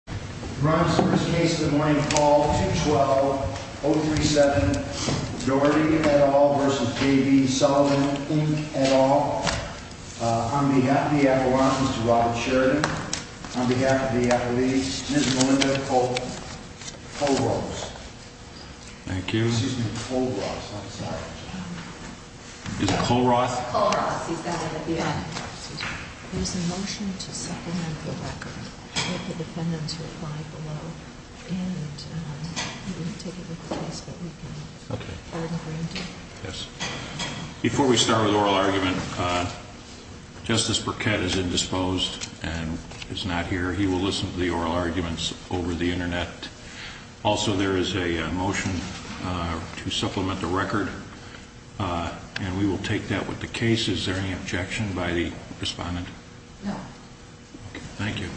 et al. On behalf of the Appalachians to Robert Sheridan, on behalf of the Appalachians, Ms. Melinda Col-Ross. Thank you. Col-Ross, I'm sorry. Is it Col-Ross? Col-Ross, he's got it at the end. There's a motion to supplement the record with the defendant's reply below, and we will take it with the case that we can hold granted. Before we start with the oral argument, Justice Burkett is indisposed and is not here. He will listen to the oral arguments over the internet. Also, there is a motion to supplement the record, and we will take that with the case. Is there any objection by the respondent? No. Thank you.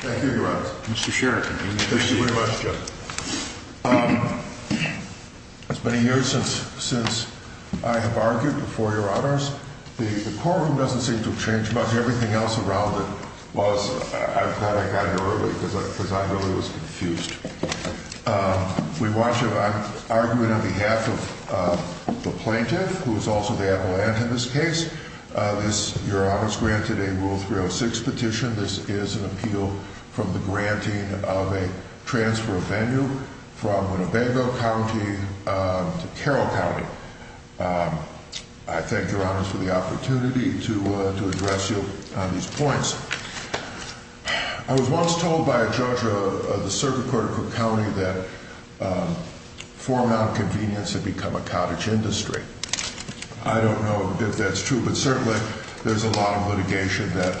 Thank you, Your Honor. Mr. Sheridan. Thank you very much, Justice. It's been a year since I have argued before Your Honors. The courtroom doesn't seem to have changed much. Everything else around it was. I thought I got here early because I really was confused. We want you to argue it on behalf of the plaintiff, who is also the Appalachian in this case. This, Your Honors, granted a Rule 306 petition. This is an appeal from the granting of a transfer of venue from Winnebago County to Carroll County. I thank Your Honors for the opportunity to address you on these points. I was once told by a judge of the Circuit Court of Cook County that foremount convenience had become a cottage industry. I don't know if that's true, but certainly there's a lot of litigation that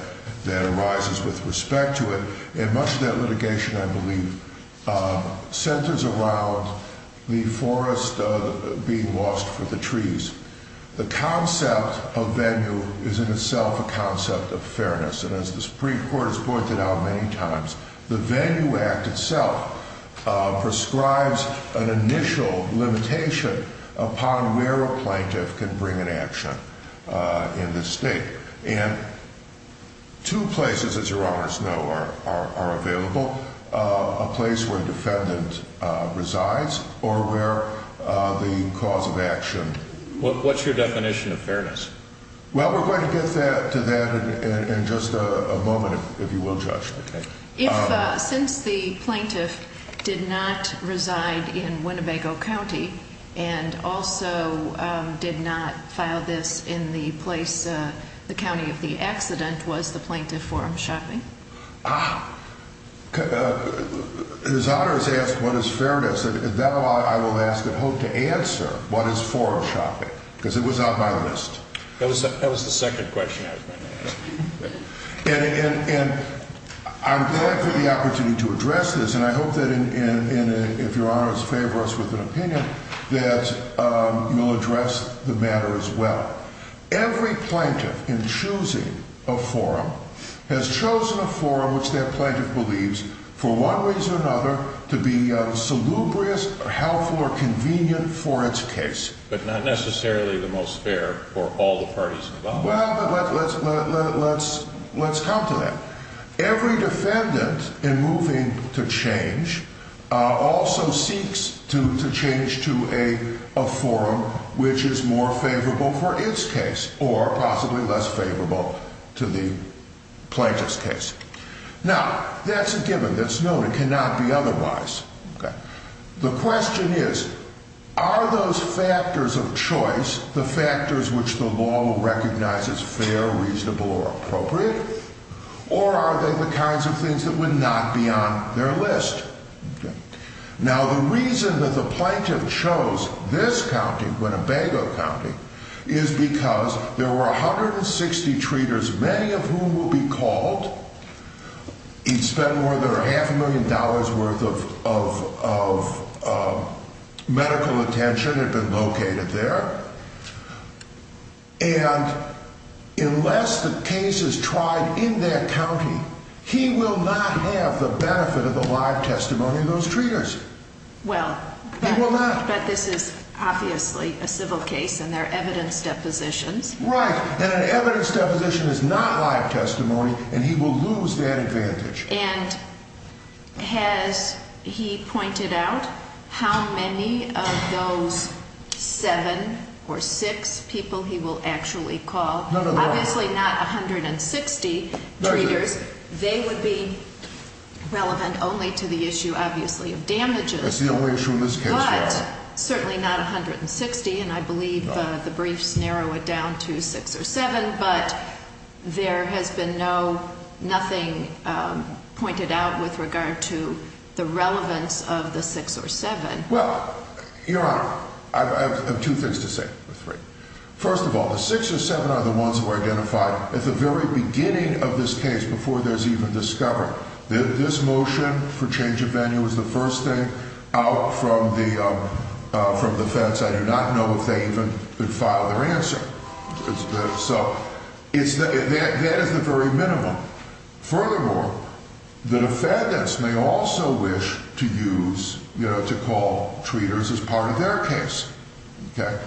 arises with respect to it. And much of that litigation, I believe, centers around the forest being lost for the trees. The concept of venue is in itself a concept of fairness. And as the Supreme Court has pointed out many times, the Venue Act itself prescribes an initial limitation upon where a plaintiff can bring an action in this state. And two places, as Your Honors know, are available. A place where a defendant resides or where the cause of action... What's your definition of fairness? Well, we're going to get to that in just a moment, if you will, Judge. If, since the plaintiff did not reside in Winnebago County and also did not file this in the place, the county of the accident, was the plaintiff forum shopping? Ah. His Honor has asked what is fairness. At that point, I will ask and hope to answer what is forum shopping, because it was on my list. That was the second question I was going to ask. And I'm glad for the opportunity to address this, and I hope that if Your Honors favor us with an opinion, that you will address the matter as well. Every plaintiff in choosing a forum has chosen a forum which their plaintiff believes, for one reason or another, to be salubrious or helpful or convenient for its case. But not necessarily the most fair for all the parties involved. Well, but let's come to that. Every defendant, in moving to change, also seeks to change to a forum which is more favorable for its case or possibly less favorable to the plaintiff's case. Now, that's a given. That's known. It cannot be otherwise. The question is, are those factors of choice, the factors which the law will recognize as fair, reasonable, or appropriate, or are they the kinds of things that would not be on their list? Now, the reason that the plaintiff chose this county, Winnebago County, is because there were 160 treaters, many of whom will be called. He'd spend more than half a million dollars worth of medical attention had been located there. And unless the case is tried in that county, he will not have the benefit of the live testimony of those treaters. Well, but this is obviously a civil case, and there are evidence depositions. Right. And an evidence deposition is not live testimony, and he will lose that advantage. And has he pointed out how many of those seven or six people he will actually call? No, no, no. Obviously not 160 treaters. They would be relevant only to the issue, obviously, of damages. That's the only issue in this case, yes. But certainly not 160, and I believe the briefs narrow it down to six or seven, but there has been nothing pointed out with regard to the relevance of the six or seven. Well, Your Honor, I have two things to say, or three. First of all, the six or seven are the ones who are identified at the very beginning of this case, before there's even discovery. This motion for change of venue is the first thing out from the feds. I do not know if they even filed their answer. So that is the very minimum. Furthermore, the defendants may also wish to use, you know, to call treaters as part of their case. Okay.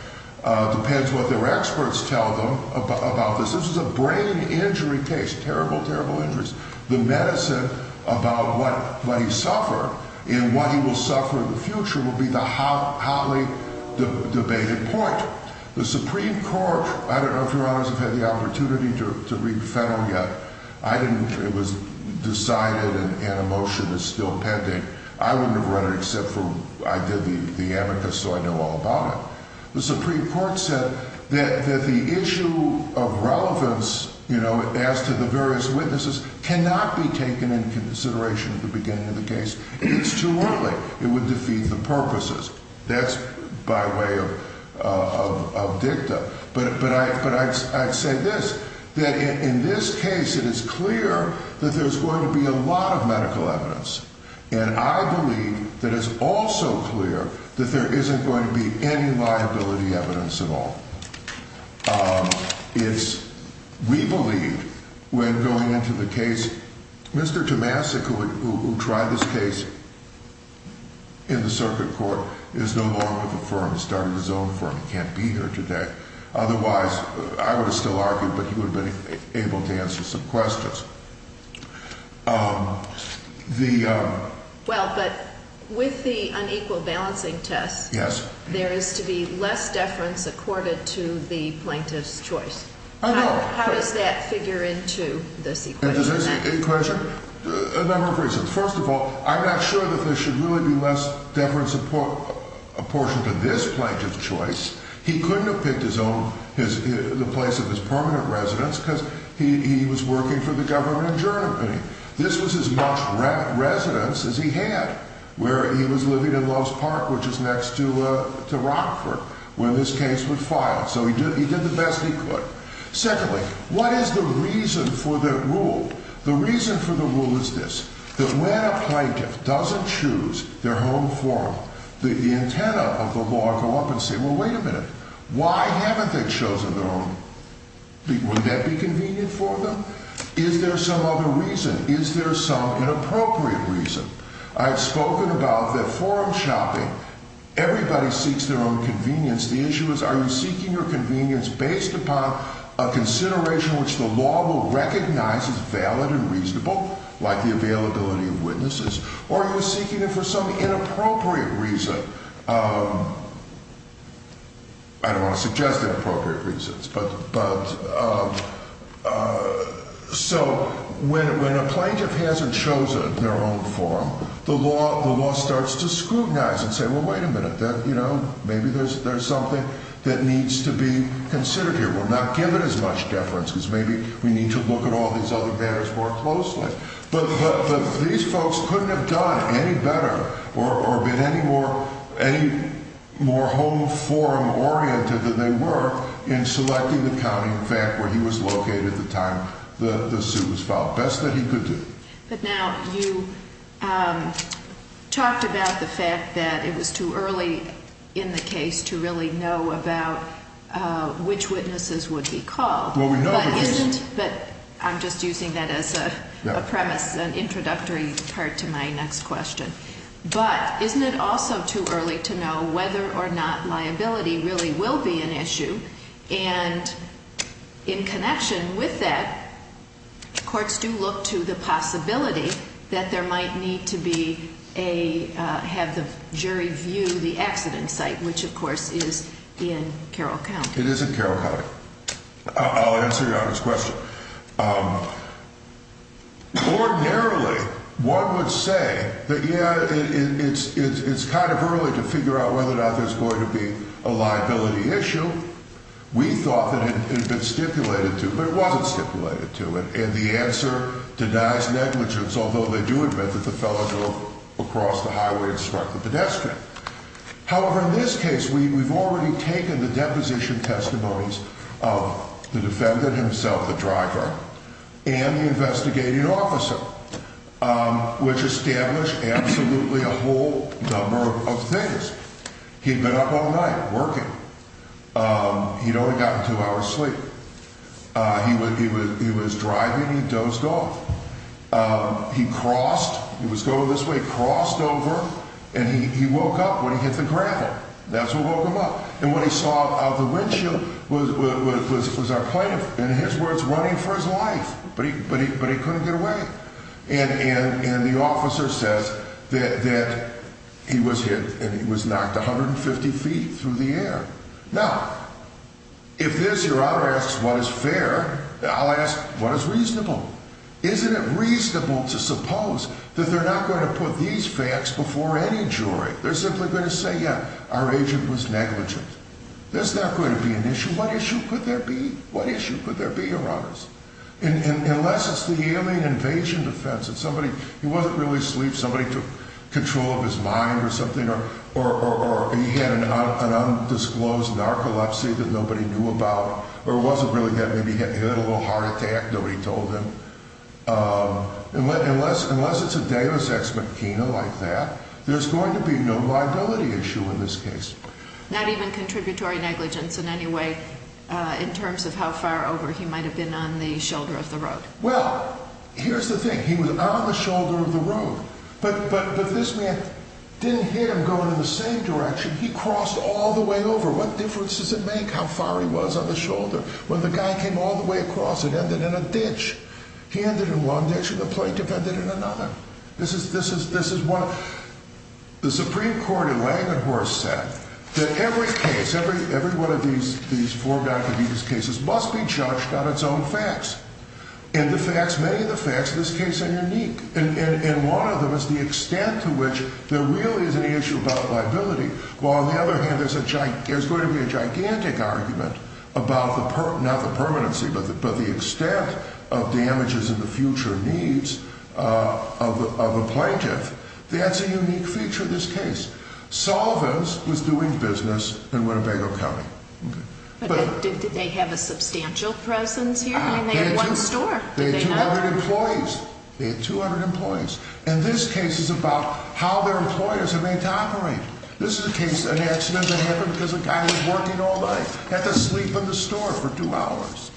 Depends what their experts tell them about this. This is a brain injury case, terrible, terrible injuries. The medicine about what he suffered and what he will suffer in the future will be the hotly debated point. The Supreme Court, I don't know if Your Honors have had the opportunity to read Fennel yet. I didn't. It was decided and a motion is still pending. I wouldn't have read it except for I did the amicus so I know all about it. The Supreme Court said that the issue of relevance, you know, as to the various witnesses, cannot be taken into consideration at the beginning of the case. It's too early. It would defeat the purposes. That's by way of dicta. But I'd say this, that in this case it is clear that there's going to be a lot of medical evidence. And I believe that it's also clear that there isn't going to be any liability evidence at all. It's, we believe, when going into the case, Mr. Tomasic, who tried this case in the circuit court, is no longer with the firm. He started his own firm. He can't be here today. Otherwise, I would have still argued, but he would have been able to answer some questions. Well, but with the unequal balancing test, there is to be less deference accorded to the plaintiff's choice. How does that figure into this equation? A number of reasons. First of all, I'm not sure that there should really be less deference apportioned to this plaintiff's choice. He couldn't have picked his own, the place of his permanent residence, because he was working for the government in Germany. This was as much residence as he had, where he was living in Loves Park, which is next to Rockford, where this case was filed. So he did the best he could. Secondly, what is the reason for the rule? The reason for the rule is this. That when a plaintiff doesn't choose their home forum, the antennae of the law go up and say, well, wait a minute. Why haven't they chosen their own? Would that be convenient for them? Is there some other reason? Is there some inappropriate reason? I've spoken about that forum shopping. Everybody seeks their own convenience. The issue is, are you seeking your convenience based upon a consideration which the law will recognize as valid and reasonable, like the availability of witnesses? Or are you seeking it for some inappropriate reason? I don't want to suggest inappropriate reasons. So when a plaintiff hasn't chosen their own forum, the law starts to scrutinize and say, well, wait a minute. Maybe there's something that needs to be considered here. We're not given as much deference, because maybe we need to look at all these other matters more closely. But these folks couldn't have done any better or been any more home forum oriented than they were in selecting the county, in fact, where he was located at the time the suit was filed. Best that he could do. But now you talked about the fact that it was too early in the case to really know about which witnesses would be called. Well, we know who it is. I'm just using that as a premise, an introductory part to my next question. But isn't it also too early to know whether or not liability really will be an issue? And in connection with that, courts do look to the possibility that there might need to have the jury view the accident site, which, of course, is in Carroll County. It is in Carroll County. I'll answer your honest question. Ordinarily, one would say that, yeah, it's kind of early to figure out whether or not there's going to be a liability issue. We thought that it had been stipulated to, but it wasn't stipulated to. And the answer denies negligence, although they do admit that the fellow drove across the highway and struck the pedestrian. However, in this case, we've already taken the deposition testimonies of the defendant himself, the driver, and the investigating officer, which established absolutely a whole number of things. He'd been up all night working. He'd only gotten two hours sleep. He was driving. He dozed off. He crossed. He was going this way, crossed over, and he woke up when he hit the gravel. That's what woke him up. And what he saw out of the windshield was our plaintiff, in his words, running for his life. But he couldn't get away. And the officer says that he was hit and he was knocked 150 feet through the air. Now, if this, your honor, asks what is fair, I'll ask what is reasonable. Isn't it reasonable to suppose that they're not going to put these facts before any jury? They're simply going to say, yeah, our agent was negligent. There's not going to be an issue. What issue could there be? What issue could there be, your honors? Unless it's the alien invasion defense and somebody, he wasn't really asleep, somebody took control of his mind or something, or he had an undisclosed narcolepsy that nobody knew about. Or it wasn't really that maybe he had a little heart attack, nobody told him. Unless it's a deus ex machina like that, there's going to be no liability issue in this case. Not even contributory negligence in any way in terms of how far over he might have been on the shoulder of the road. Well, here's the thing. He was on the shoulder of the road. But this man didn't hit him going in the same direction. He crossed all the way over. Well, the guy came all the way across and ended in a ditch. He ended in one ditch and the plaintiff ended in another. This is what the Supreme Court in Langenhorst said. That every case, every one of these four Dr. Devis cases must be judged on its own facts. And the facts, many of the facts in this case are unique. And one of them is the extent to which there really is an issue about liability. While on the other hand, there's going to be a gigantic argument about the, not the permanency, but the extent of damages and the future needs of a plaintiff. That's a unique feature of this case. Solvance was doing business in Winnebago County. But did they have a substantial presence here? I mean, they had one store. They had 200 employees. They had 200 employees. And this case is about how their employers are made to operate. This is a case, an accident that happened because a guy was working all night. Had to sleep in the store for two hours.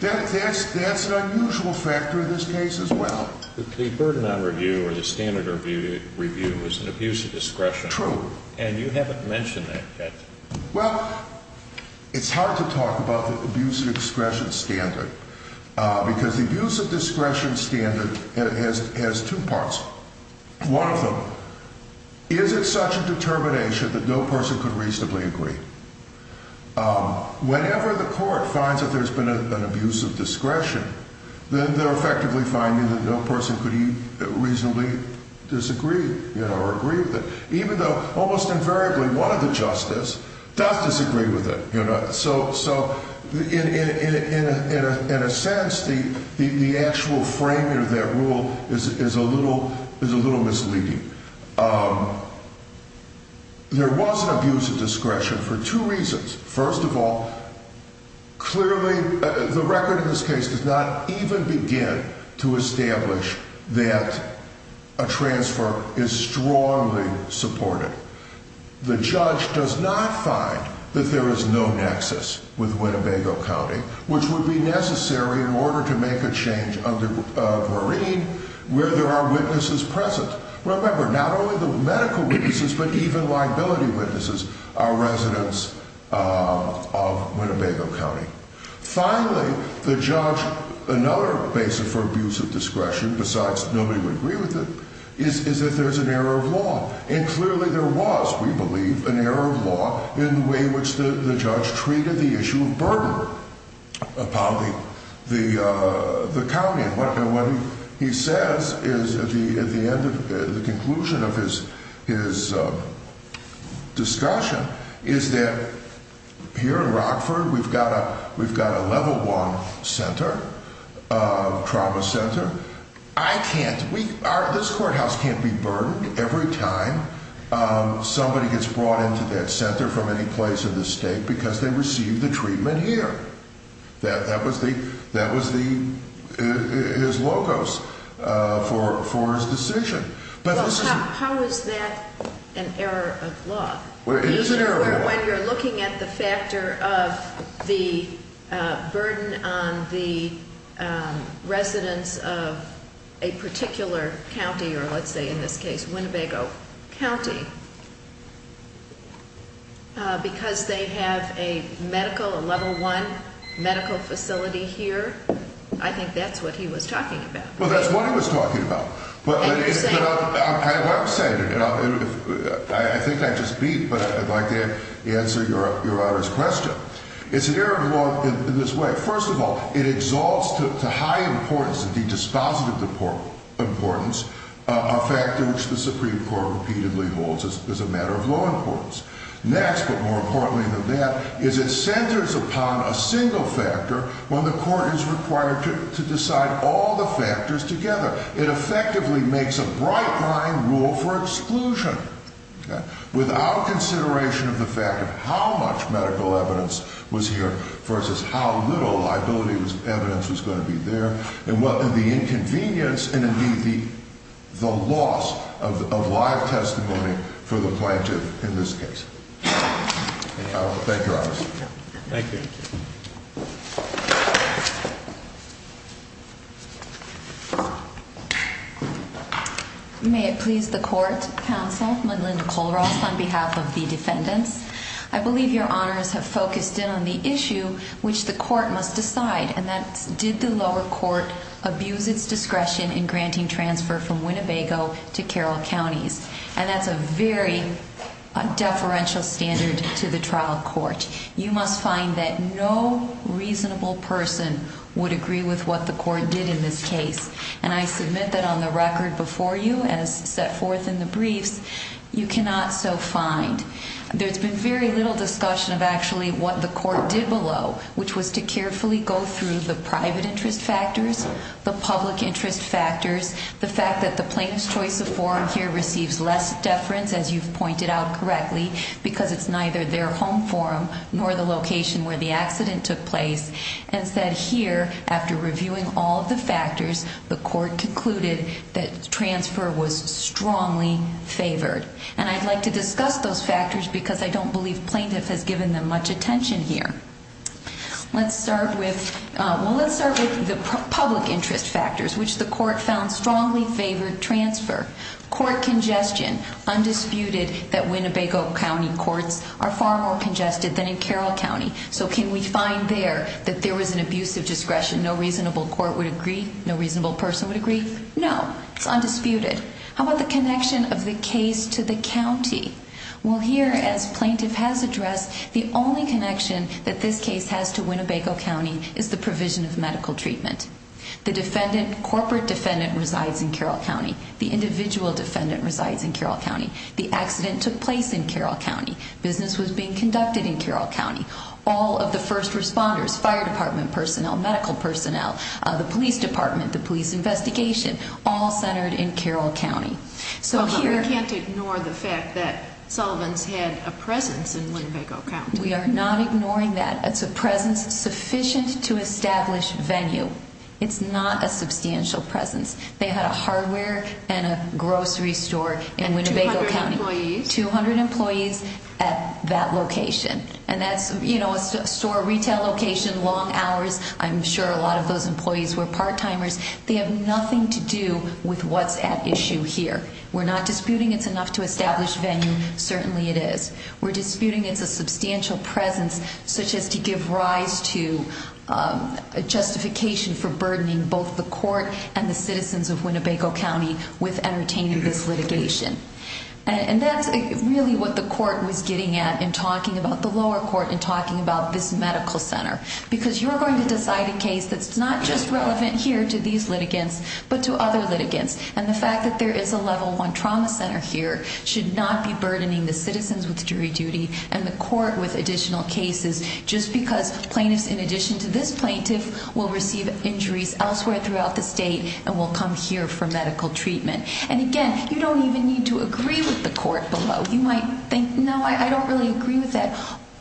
That's an unusual factor in this case as well. The burden on review or the standard review is an abuse of discretion. True. And you haven't mentioned that yet. Well, it's hard to talk about the abuse of discretion standard. Because the abuse of discretion standard has two parts. One of them, is it such a determination that no person could reasonably agree? Whenever the court finds that there's been an abuse of discretion, then they're effectively finding that no person could reasonably disagree or agree with it. Even though almost invariably one of the justices does disagree with it. So, in a sense, the actual framing of that rule is a little misleading. There was an abuse of discretion for two reasons. First of all, clearly the record in this case does not even begin to establish that a transfer is strongly supported. The judge does not find that there is no nexus with Winnebago County, which would be necessary in order to make a change of Marine where there are witnesses present. Remember, not only the medical witnesses, but even liability witnesses are residents of Winnebago County. Finally, the judge, another basis for abuse of discretion, besides nobody would agree with it, is that there's an error of law. And clearly there was, we believe, an error of law in the way which the judge treated the issue of burden upon the county. And what he says is, at the end of the conclusion of his discussion, is that here in Rockford we've got a level one center, trauma center. I can't, this courthouse can't be burdened every time somebody gets brought into that center from any place in the state because they received the treatment here. That was his logos for his decision. Well, how is that an error of law? When you're looking at the factor of the burden on the residents of a particular county, or let's say in this case Winnebago County, because they have a medical, a level one medical facility here, I think that's what he was talking about. Well, that's what he was talking about. I think I just beat, but I'd like to answer Your Honor's question. It's an error of law in this way. First of all, it exalts to high importance, the dispositive importance, a factor which the Supreme Court repeatedly holds as a matter of low importance. Next, but more importantly than that, is it centers upon a single factor when the court is required to decide all the factors together. It effectively makes a bright line rule for exclusion without consideration of the fact of how much medical evidence was here versus how little liability evidence was going to be there, and the inconvenience and indeed the loss of live testimony for the plaintiff in this case. Thank you, Your Honor. Thank you. May it please the court, counsel, I'm Linda Kollross on behalf of the defendants. I believe Your Honors have focused in on the issue which the court must decide, and that's did the lower court abuse its discretion in granting transfer from Winnebago to Carroll Counties, and that's a very deferential standard to the trial court. You must find that no reasonable person would agree with what the court did in this case, and I submit that on the record before you, as set forth in the briefs, you cannot so find. There's been very little discussion of actually what the court did below, which was to carefully go through the private interest factors, the public interest factors, the fact that the plaintiff's choice of forum here receives less deference, as you've pointed out correctly, because it's neither their home forum nor the location where the accident took place, and said here, after reviewing all of the factors, the court concluded that transfer was strongly favored, and I'd like to discuss those factors because I don't believe plaintiff has given them much attention here. Let's start with the public interest factors, which the court found strongly favored transfer. Court congestion, undisputed that Winnebago County courts are far more congested than in Carroll County, so can we find there that there was an abuse of discretion, no reasonable court would agree, no reasonable person would agree, no, it's undisputed. How about the connection of the case to the county? Well, here, as plaintiff has addressed, the only connection that this case has to Winnebago County is the provision of medical treatment. The defendant, corporate defendant, resides in Carroll County. The individual defendant resides in Carroll County. The accident took place in Carroll County. Business was being conducted in Carroll County. All of the first responders, fire department personnel, medical personnel, the police department, the police investigation, all centered in Carroll County. So here... But we can't ignore the fact that Sullivan's had a presence in Winnebago County. We are not ignoring that. It's a presence sufficient to establish venue. It's not a substantial presence. They had a hardware and a grocery store in Winnebago County. 200 employees. 200 employees at that location. And that's, you know, a store retail location, long hours. I'm sure a lot of those employees were part-timers. They have nothing to do with what's at issue here. We're not disputing it's enough to establish venue. Certainly it is. We're disputing it's a substantial presence such as to give rise to a justification for burdening both the court and the citizens of Winnebago County with entertaining this litigation. And that's really what the court was getting at in talking about the lower court and talking about this medical center. Because you're going to decide a case that's not just relevant here to these litigants but to other litigants. And the fact that there is a level one trauma center here should not be burdening the citizens with jury duty and the court with additional cases just because plaintiffs in addition to this plaintiff will receive injuries elsewhere throughout the state and will come here for medical treatment. And again, you don't even need to agree with the court below. You might think, no, I don't really agree with that.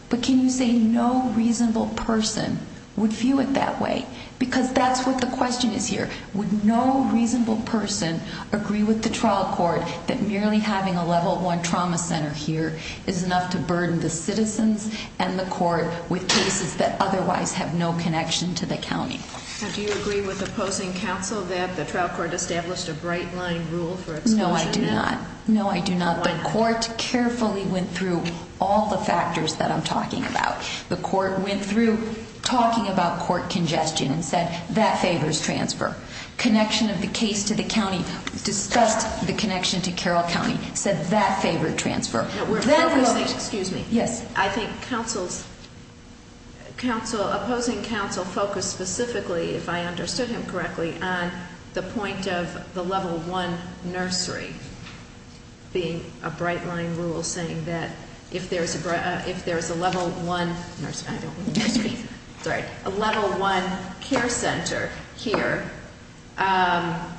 But can you say no reasonable person would view it that way? Because that's what the question is here. Would no reasonable person agree with the trial court that merely having a level one trauma center here is enough to burden the citizens and the court with cases that otherwise have no connection to the county? Do you agree with opposing counsel that the trial court established a bright line rule for exclusion? No, I do not. No, I do not. The court carefully went through all the factors that I'm talking about. The court went through talking about court congestion and said that favors transfer. Connection of the case to the county, discussed the connection to Carroll County, said that favored transfer. Excuse me. Yes. I think opposing counsel focused specifically, if I understood him correctly, on the point of the level one nursery being a bright line rule saying that if there's a level one care center here, then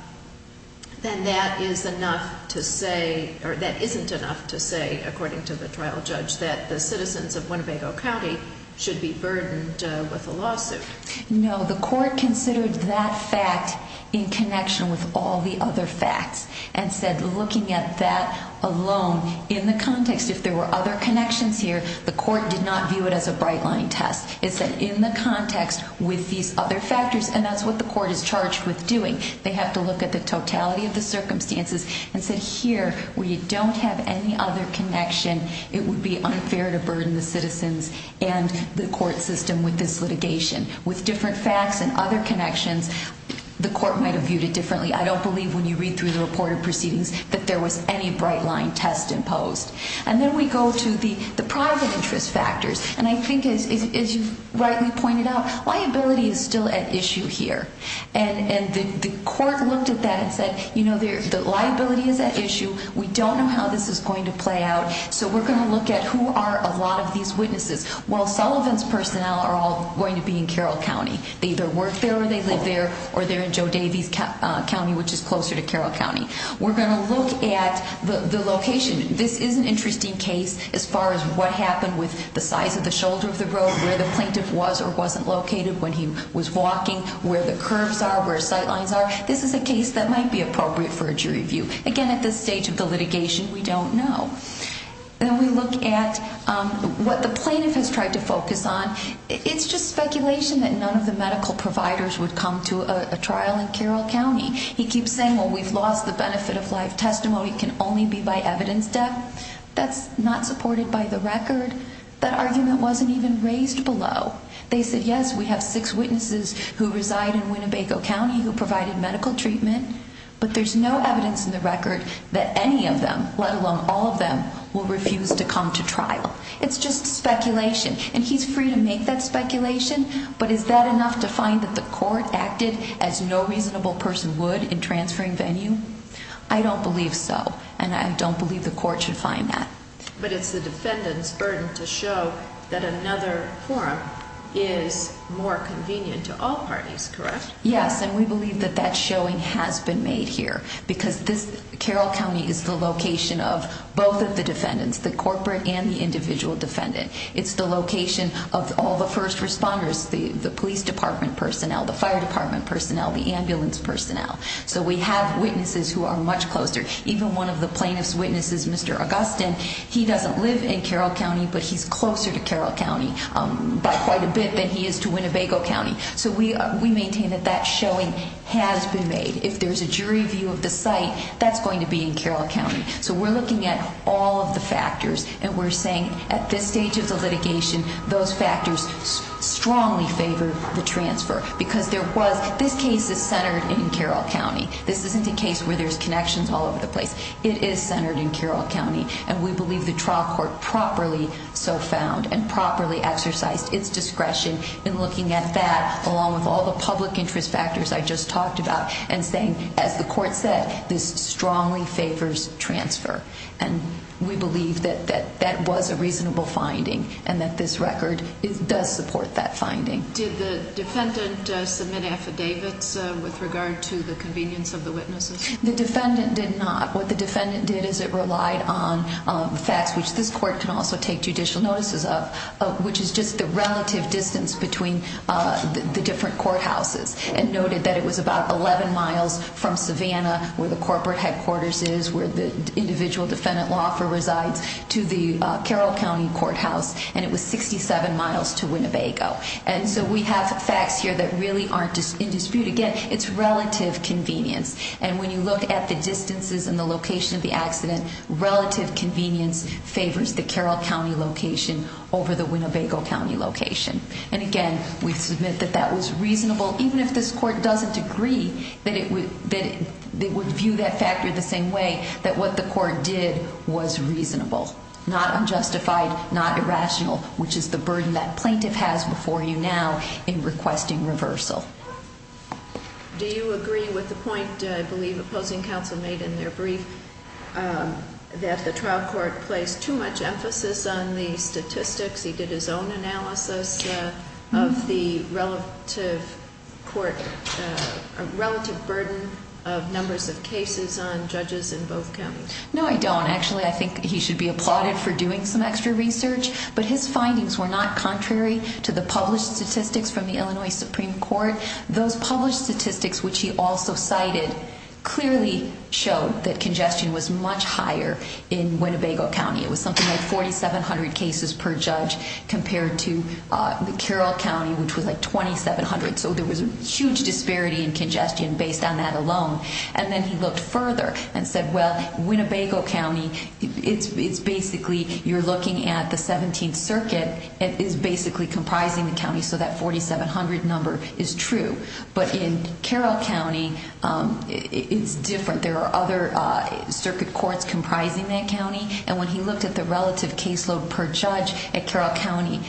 that is enough to say, or that isn't enough to say, according to the trial judge, that the citizens of Winnebago County should be burdened with a lawsuit. No, the court considered that fact in connection with all the other facts and said looking at that alone in the context, if there were other connections here, the court did not view it as a bright line test. It said in the context with these other factors, and that's what the court is charged with doing. They have to look at the totality of the circumstances and said here, where you don't have any other connection, it would be unfair to burden the citizens and the court system with this litigation. With different facts and other connections, the court might have viewed it differently. I don't believe when you read through the reported proceedings that there was any bright line test imposed. And then we go to the private interest factors. And I think as you rightly pointed out, liability is still at issue here. And the court looked at that and said, you know, the liability is at issue. We don't know how this is going to play out, so we're going to look at who are a lot of these witnesses. Well, Sullivan's personnel are all going to be in Carroll County. They either work there or they live there or they're in Joe Davies County, which is closer to Carroll County. We're going to look at the location. This is an interesting case as far as what happened with the size of the shoulder of the road, where the plaintiff was or wasn't located when he was walking, where the curves are, where sight lines are. This is a case that might be appropriate for a jury view. Again, at this stage of the litigation, we don't know. Then we look at what the plaintiff has tried to focus on. It's speculation that none of the medical providers would come to a trial in Carroll County. He keeps saying, well, we've lost the benefit of life testimony. It can only be by evidence death. That's not supported by the record. That argument wasn't even raised below. They said, yes, we have six witnesses who reside in Winnebago County who provided medical treatment, but there's no evidence in the record that any of them, let alone all of them, will refuse to come to trial. It's just speculation. And he's free to make that speculation but is that enough to find that the court acted as no reasonable person would in transferring venue? I don't believe so, and I don't believe the court should find that. But it's the defendant's burden to show that another forum is more convenient to all parties, correct? Yes, and we believe that that showing has been made here because Carroll County is the location of both of the defendants, the corporate and the individual defendant. It's the location of all the first responders, the police department personnel, the fire department personnel, the ambulance personnel. So we have witnesses who are much closer. Even one of the plaintiff's witnesses, Mr. Augustin, he doesn't live in Carroll County but he's closer to Carroll County by quite a bit than he is to Winnebago County. So we maintain that that showing has been made. If there's a jury view of the site, that's going to be in Carroll County. So we're looking at all of the factors and we're saying at this stage of the litigation, those factors strongly favor the transfer because this case is centered in Carroll County. This isn't a case where there's connections all over the place. It is centered in Carroll County and we believe the trial court properly so found and properly exercised its discretion in looking at that along with all the public interest factors I just talked about and saying, as the court said, this strongly favors transfer. And we believe that that was a reasonable finding and this record does support that finding. Did the defendant submit affidavits with regard to the convenience of the witnesses? The defendant did not. What the defendant did is it relied on facts which this court can also take judicial notices of which is just the relative distance between the different courthouses and noted that it was about 11 miles from Savannah where the corporate headquarters is, where the individual defendant law firm resides to the Carroll County courthouse and it was 67 miles to Winnebago. And so we have facts here that really aren't in dispute. Again, it's relative convenience and when you look at the distances and the location of the accident, relative convenience favors the Carroll County location over the Winnebago County location. And again, we submit that that was reasonable even if this court doesn't agree that it would view that factor the same way that what the court did was reasonable, not unjustified, not irrational which is the burden that plaintiff has before you now in requesting reversal. Do you agree with the point, I believe, opposing counsel made in their brief that the trial court placed too much emphasis on the statistics? He did his own analysis of the relative court, relative burden of numbers of cases on judges in both counties. No, I don't. He was applauded for doing some extra research but his findings were not contrary to the published statistics from the Illinois Supreme Court. Those published statistics which he also cited clearly showed that congestion was much higher in Winnebago County. It was something like 4,700 cases per judge compared to the Carroll County which was like 2,700. So there was a huge disparity in congestion based on that alone. And then he looked further and said, well, Winnebago County, it's basically, you're looking at the 17th Circuit and it's basically comprising the county so that 4,700 number is true. But in Carroll County, it's different. There are other circuit courts comprising that county and when he looked at the relative caseload per judge at Carroll County,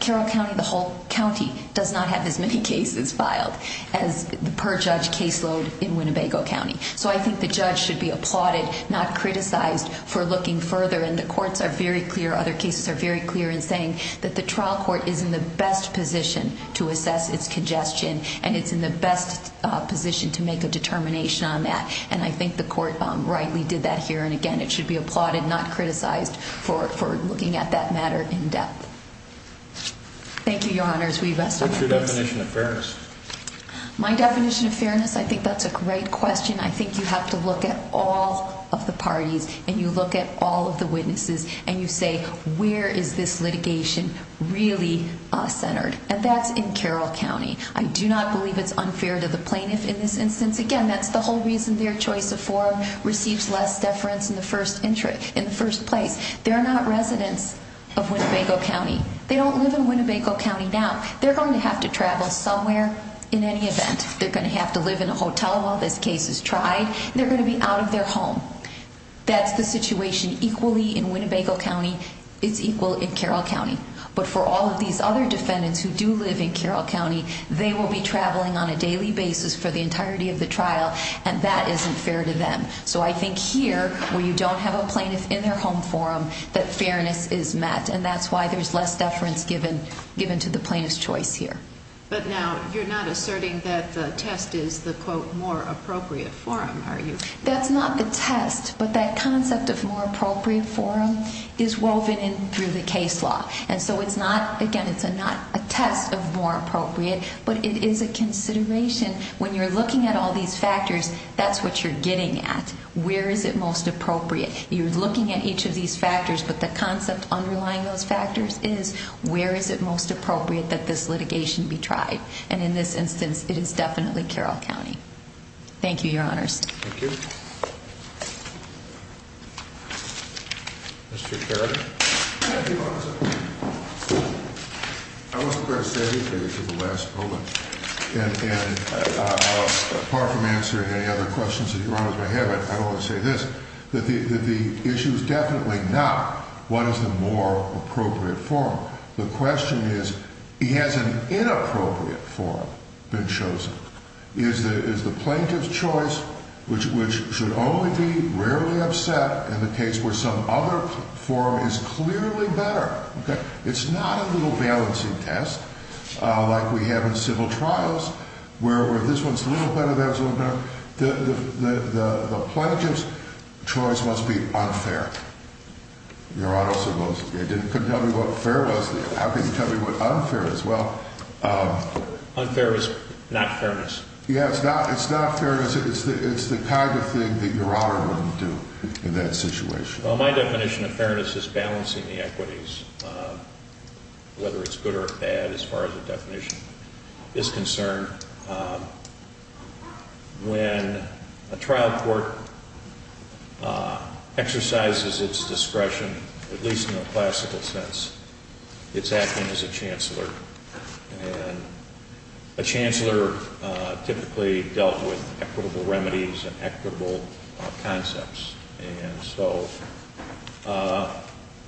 Carroll County, the whole county does not have as many cases filed as the per judge caseload in Winnebago County. So I think the judge should be applauded not criticized for looking further. And the courts are very clear. Other cases are very clear in saying that the trial court is in the best position to assess its congestion and it's in the best position to make a determination on that. And I think the court rightly did that here. And again, it should be applauded, not criticized for looking at that matter in depth. Thank you, Your Honors. We rest our case. What's your definition of fairness? My definition of fairness, I think that's a great question. I think you have to look at all of the parties and you look at all of the witnesses and you say, where is this litigation really centered? And that's in Carroll County. I do not believe it's unfair to the plaintiff in this instance. Again, that's the whole reason their choice of forum receives less deference in the first place. They're not residents of Winnebago County. They don't live in Winnebago County now. They're going to have to travel somewhere in any event. They're going to have to live in a hotel while this case is tried. They're going to be out of their home. That's the situation equally in Winnebago County. It's equal in Carroll County. But for all of these other defendants who do live in Carroll County, they will be traveling on a daily basis for the entirety of the trial. And that isn't fair to them. So I think here, where you don't have a plaintiff in their home forum, that fairness is met. And that's why there's less deference given to the plaintiff's choice here. But now, you're not asserting that the test is the, quote, more appropriate forum, are you? That's not the test. But that concept of more appropriate forum is woven in through the case law. And so it's not, again, it's not a test of more appropriate, but it is a consideration. When you're looking at all these factors, that's what you're getting at. Where is it most appropriate? You're looking at each of these factors, but the concept underlying those factors is where is it most appropriate that this litigation be tried? And in this instance, it is definitely Carroll County. Thank you, Your Honors. Thank you. Mr. Carrigan. Thank you, Your Honors. I wasn't going to say anything until the last moment. And apart from answering any other questions that Your Honors may have, I don't want to say this, that the issue is definitely not what is the more appropriate forum. The question is, has an inappropriate forum been chosen? Is the plaintiff's choice, which should only be rarely upset in the case where some other forum is clearly better. It's not a little balancing test like we have in civil trials where this one's a little better, that one's a little better. The plaintiff's choice must be unfair. Your Honor also goes, you couldn't tell me what fair was. How can you tell me what unfair is? Well... Unfair is not fairness. Yeah, it's not fairness. It's the kind of thing that Your Honor wouldn't do in that situation. Well, my definition of fairness is balancing the equities, whether it's good or bad as far as the definition is concerned. When a trial court exercises its discretion, at least in a classical sense, it's acting as a chancellor. And a chancellor typically dealt with equitable remedies and equitable concepts. And so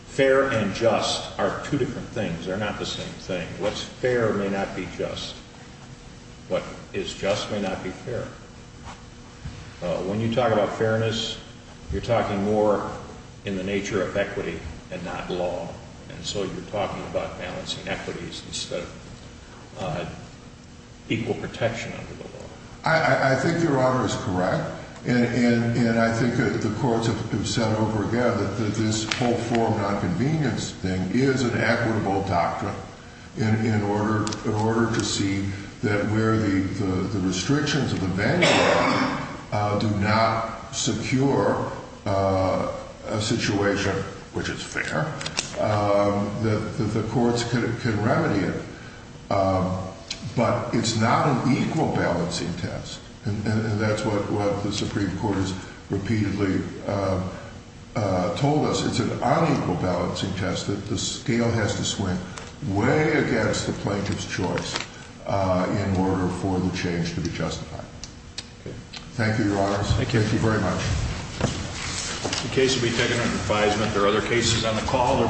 fair and just are two different things. They're not the same thing. What's fair may not be just. What is just may not be fair. When you talk about fairness, you're talking more in the nature of equity and not law. And so you're talking about balancing equities instead of equal protection under the law. I think Your Honor is correct. And I think the courts have said over and over again that this whole form of nonconvenience thing is an equitable doctrine in order to see that where the restrictions of the manual do not secure a situation which is fair, that the courts can remedy it. But it's not an equal balancing test. And that's what the Supreme Court has repeatedly told us. It's an unequal balancing test that the scale has to swing way against the plaintiff's choice in order for the change to be justified. Thank you, Your Honors. Thank you. Thank you very much. The case will be taken under advisement. There are other cases on the call.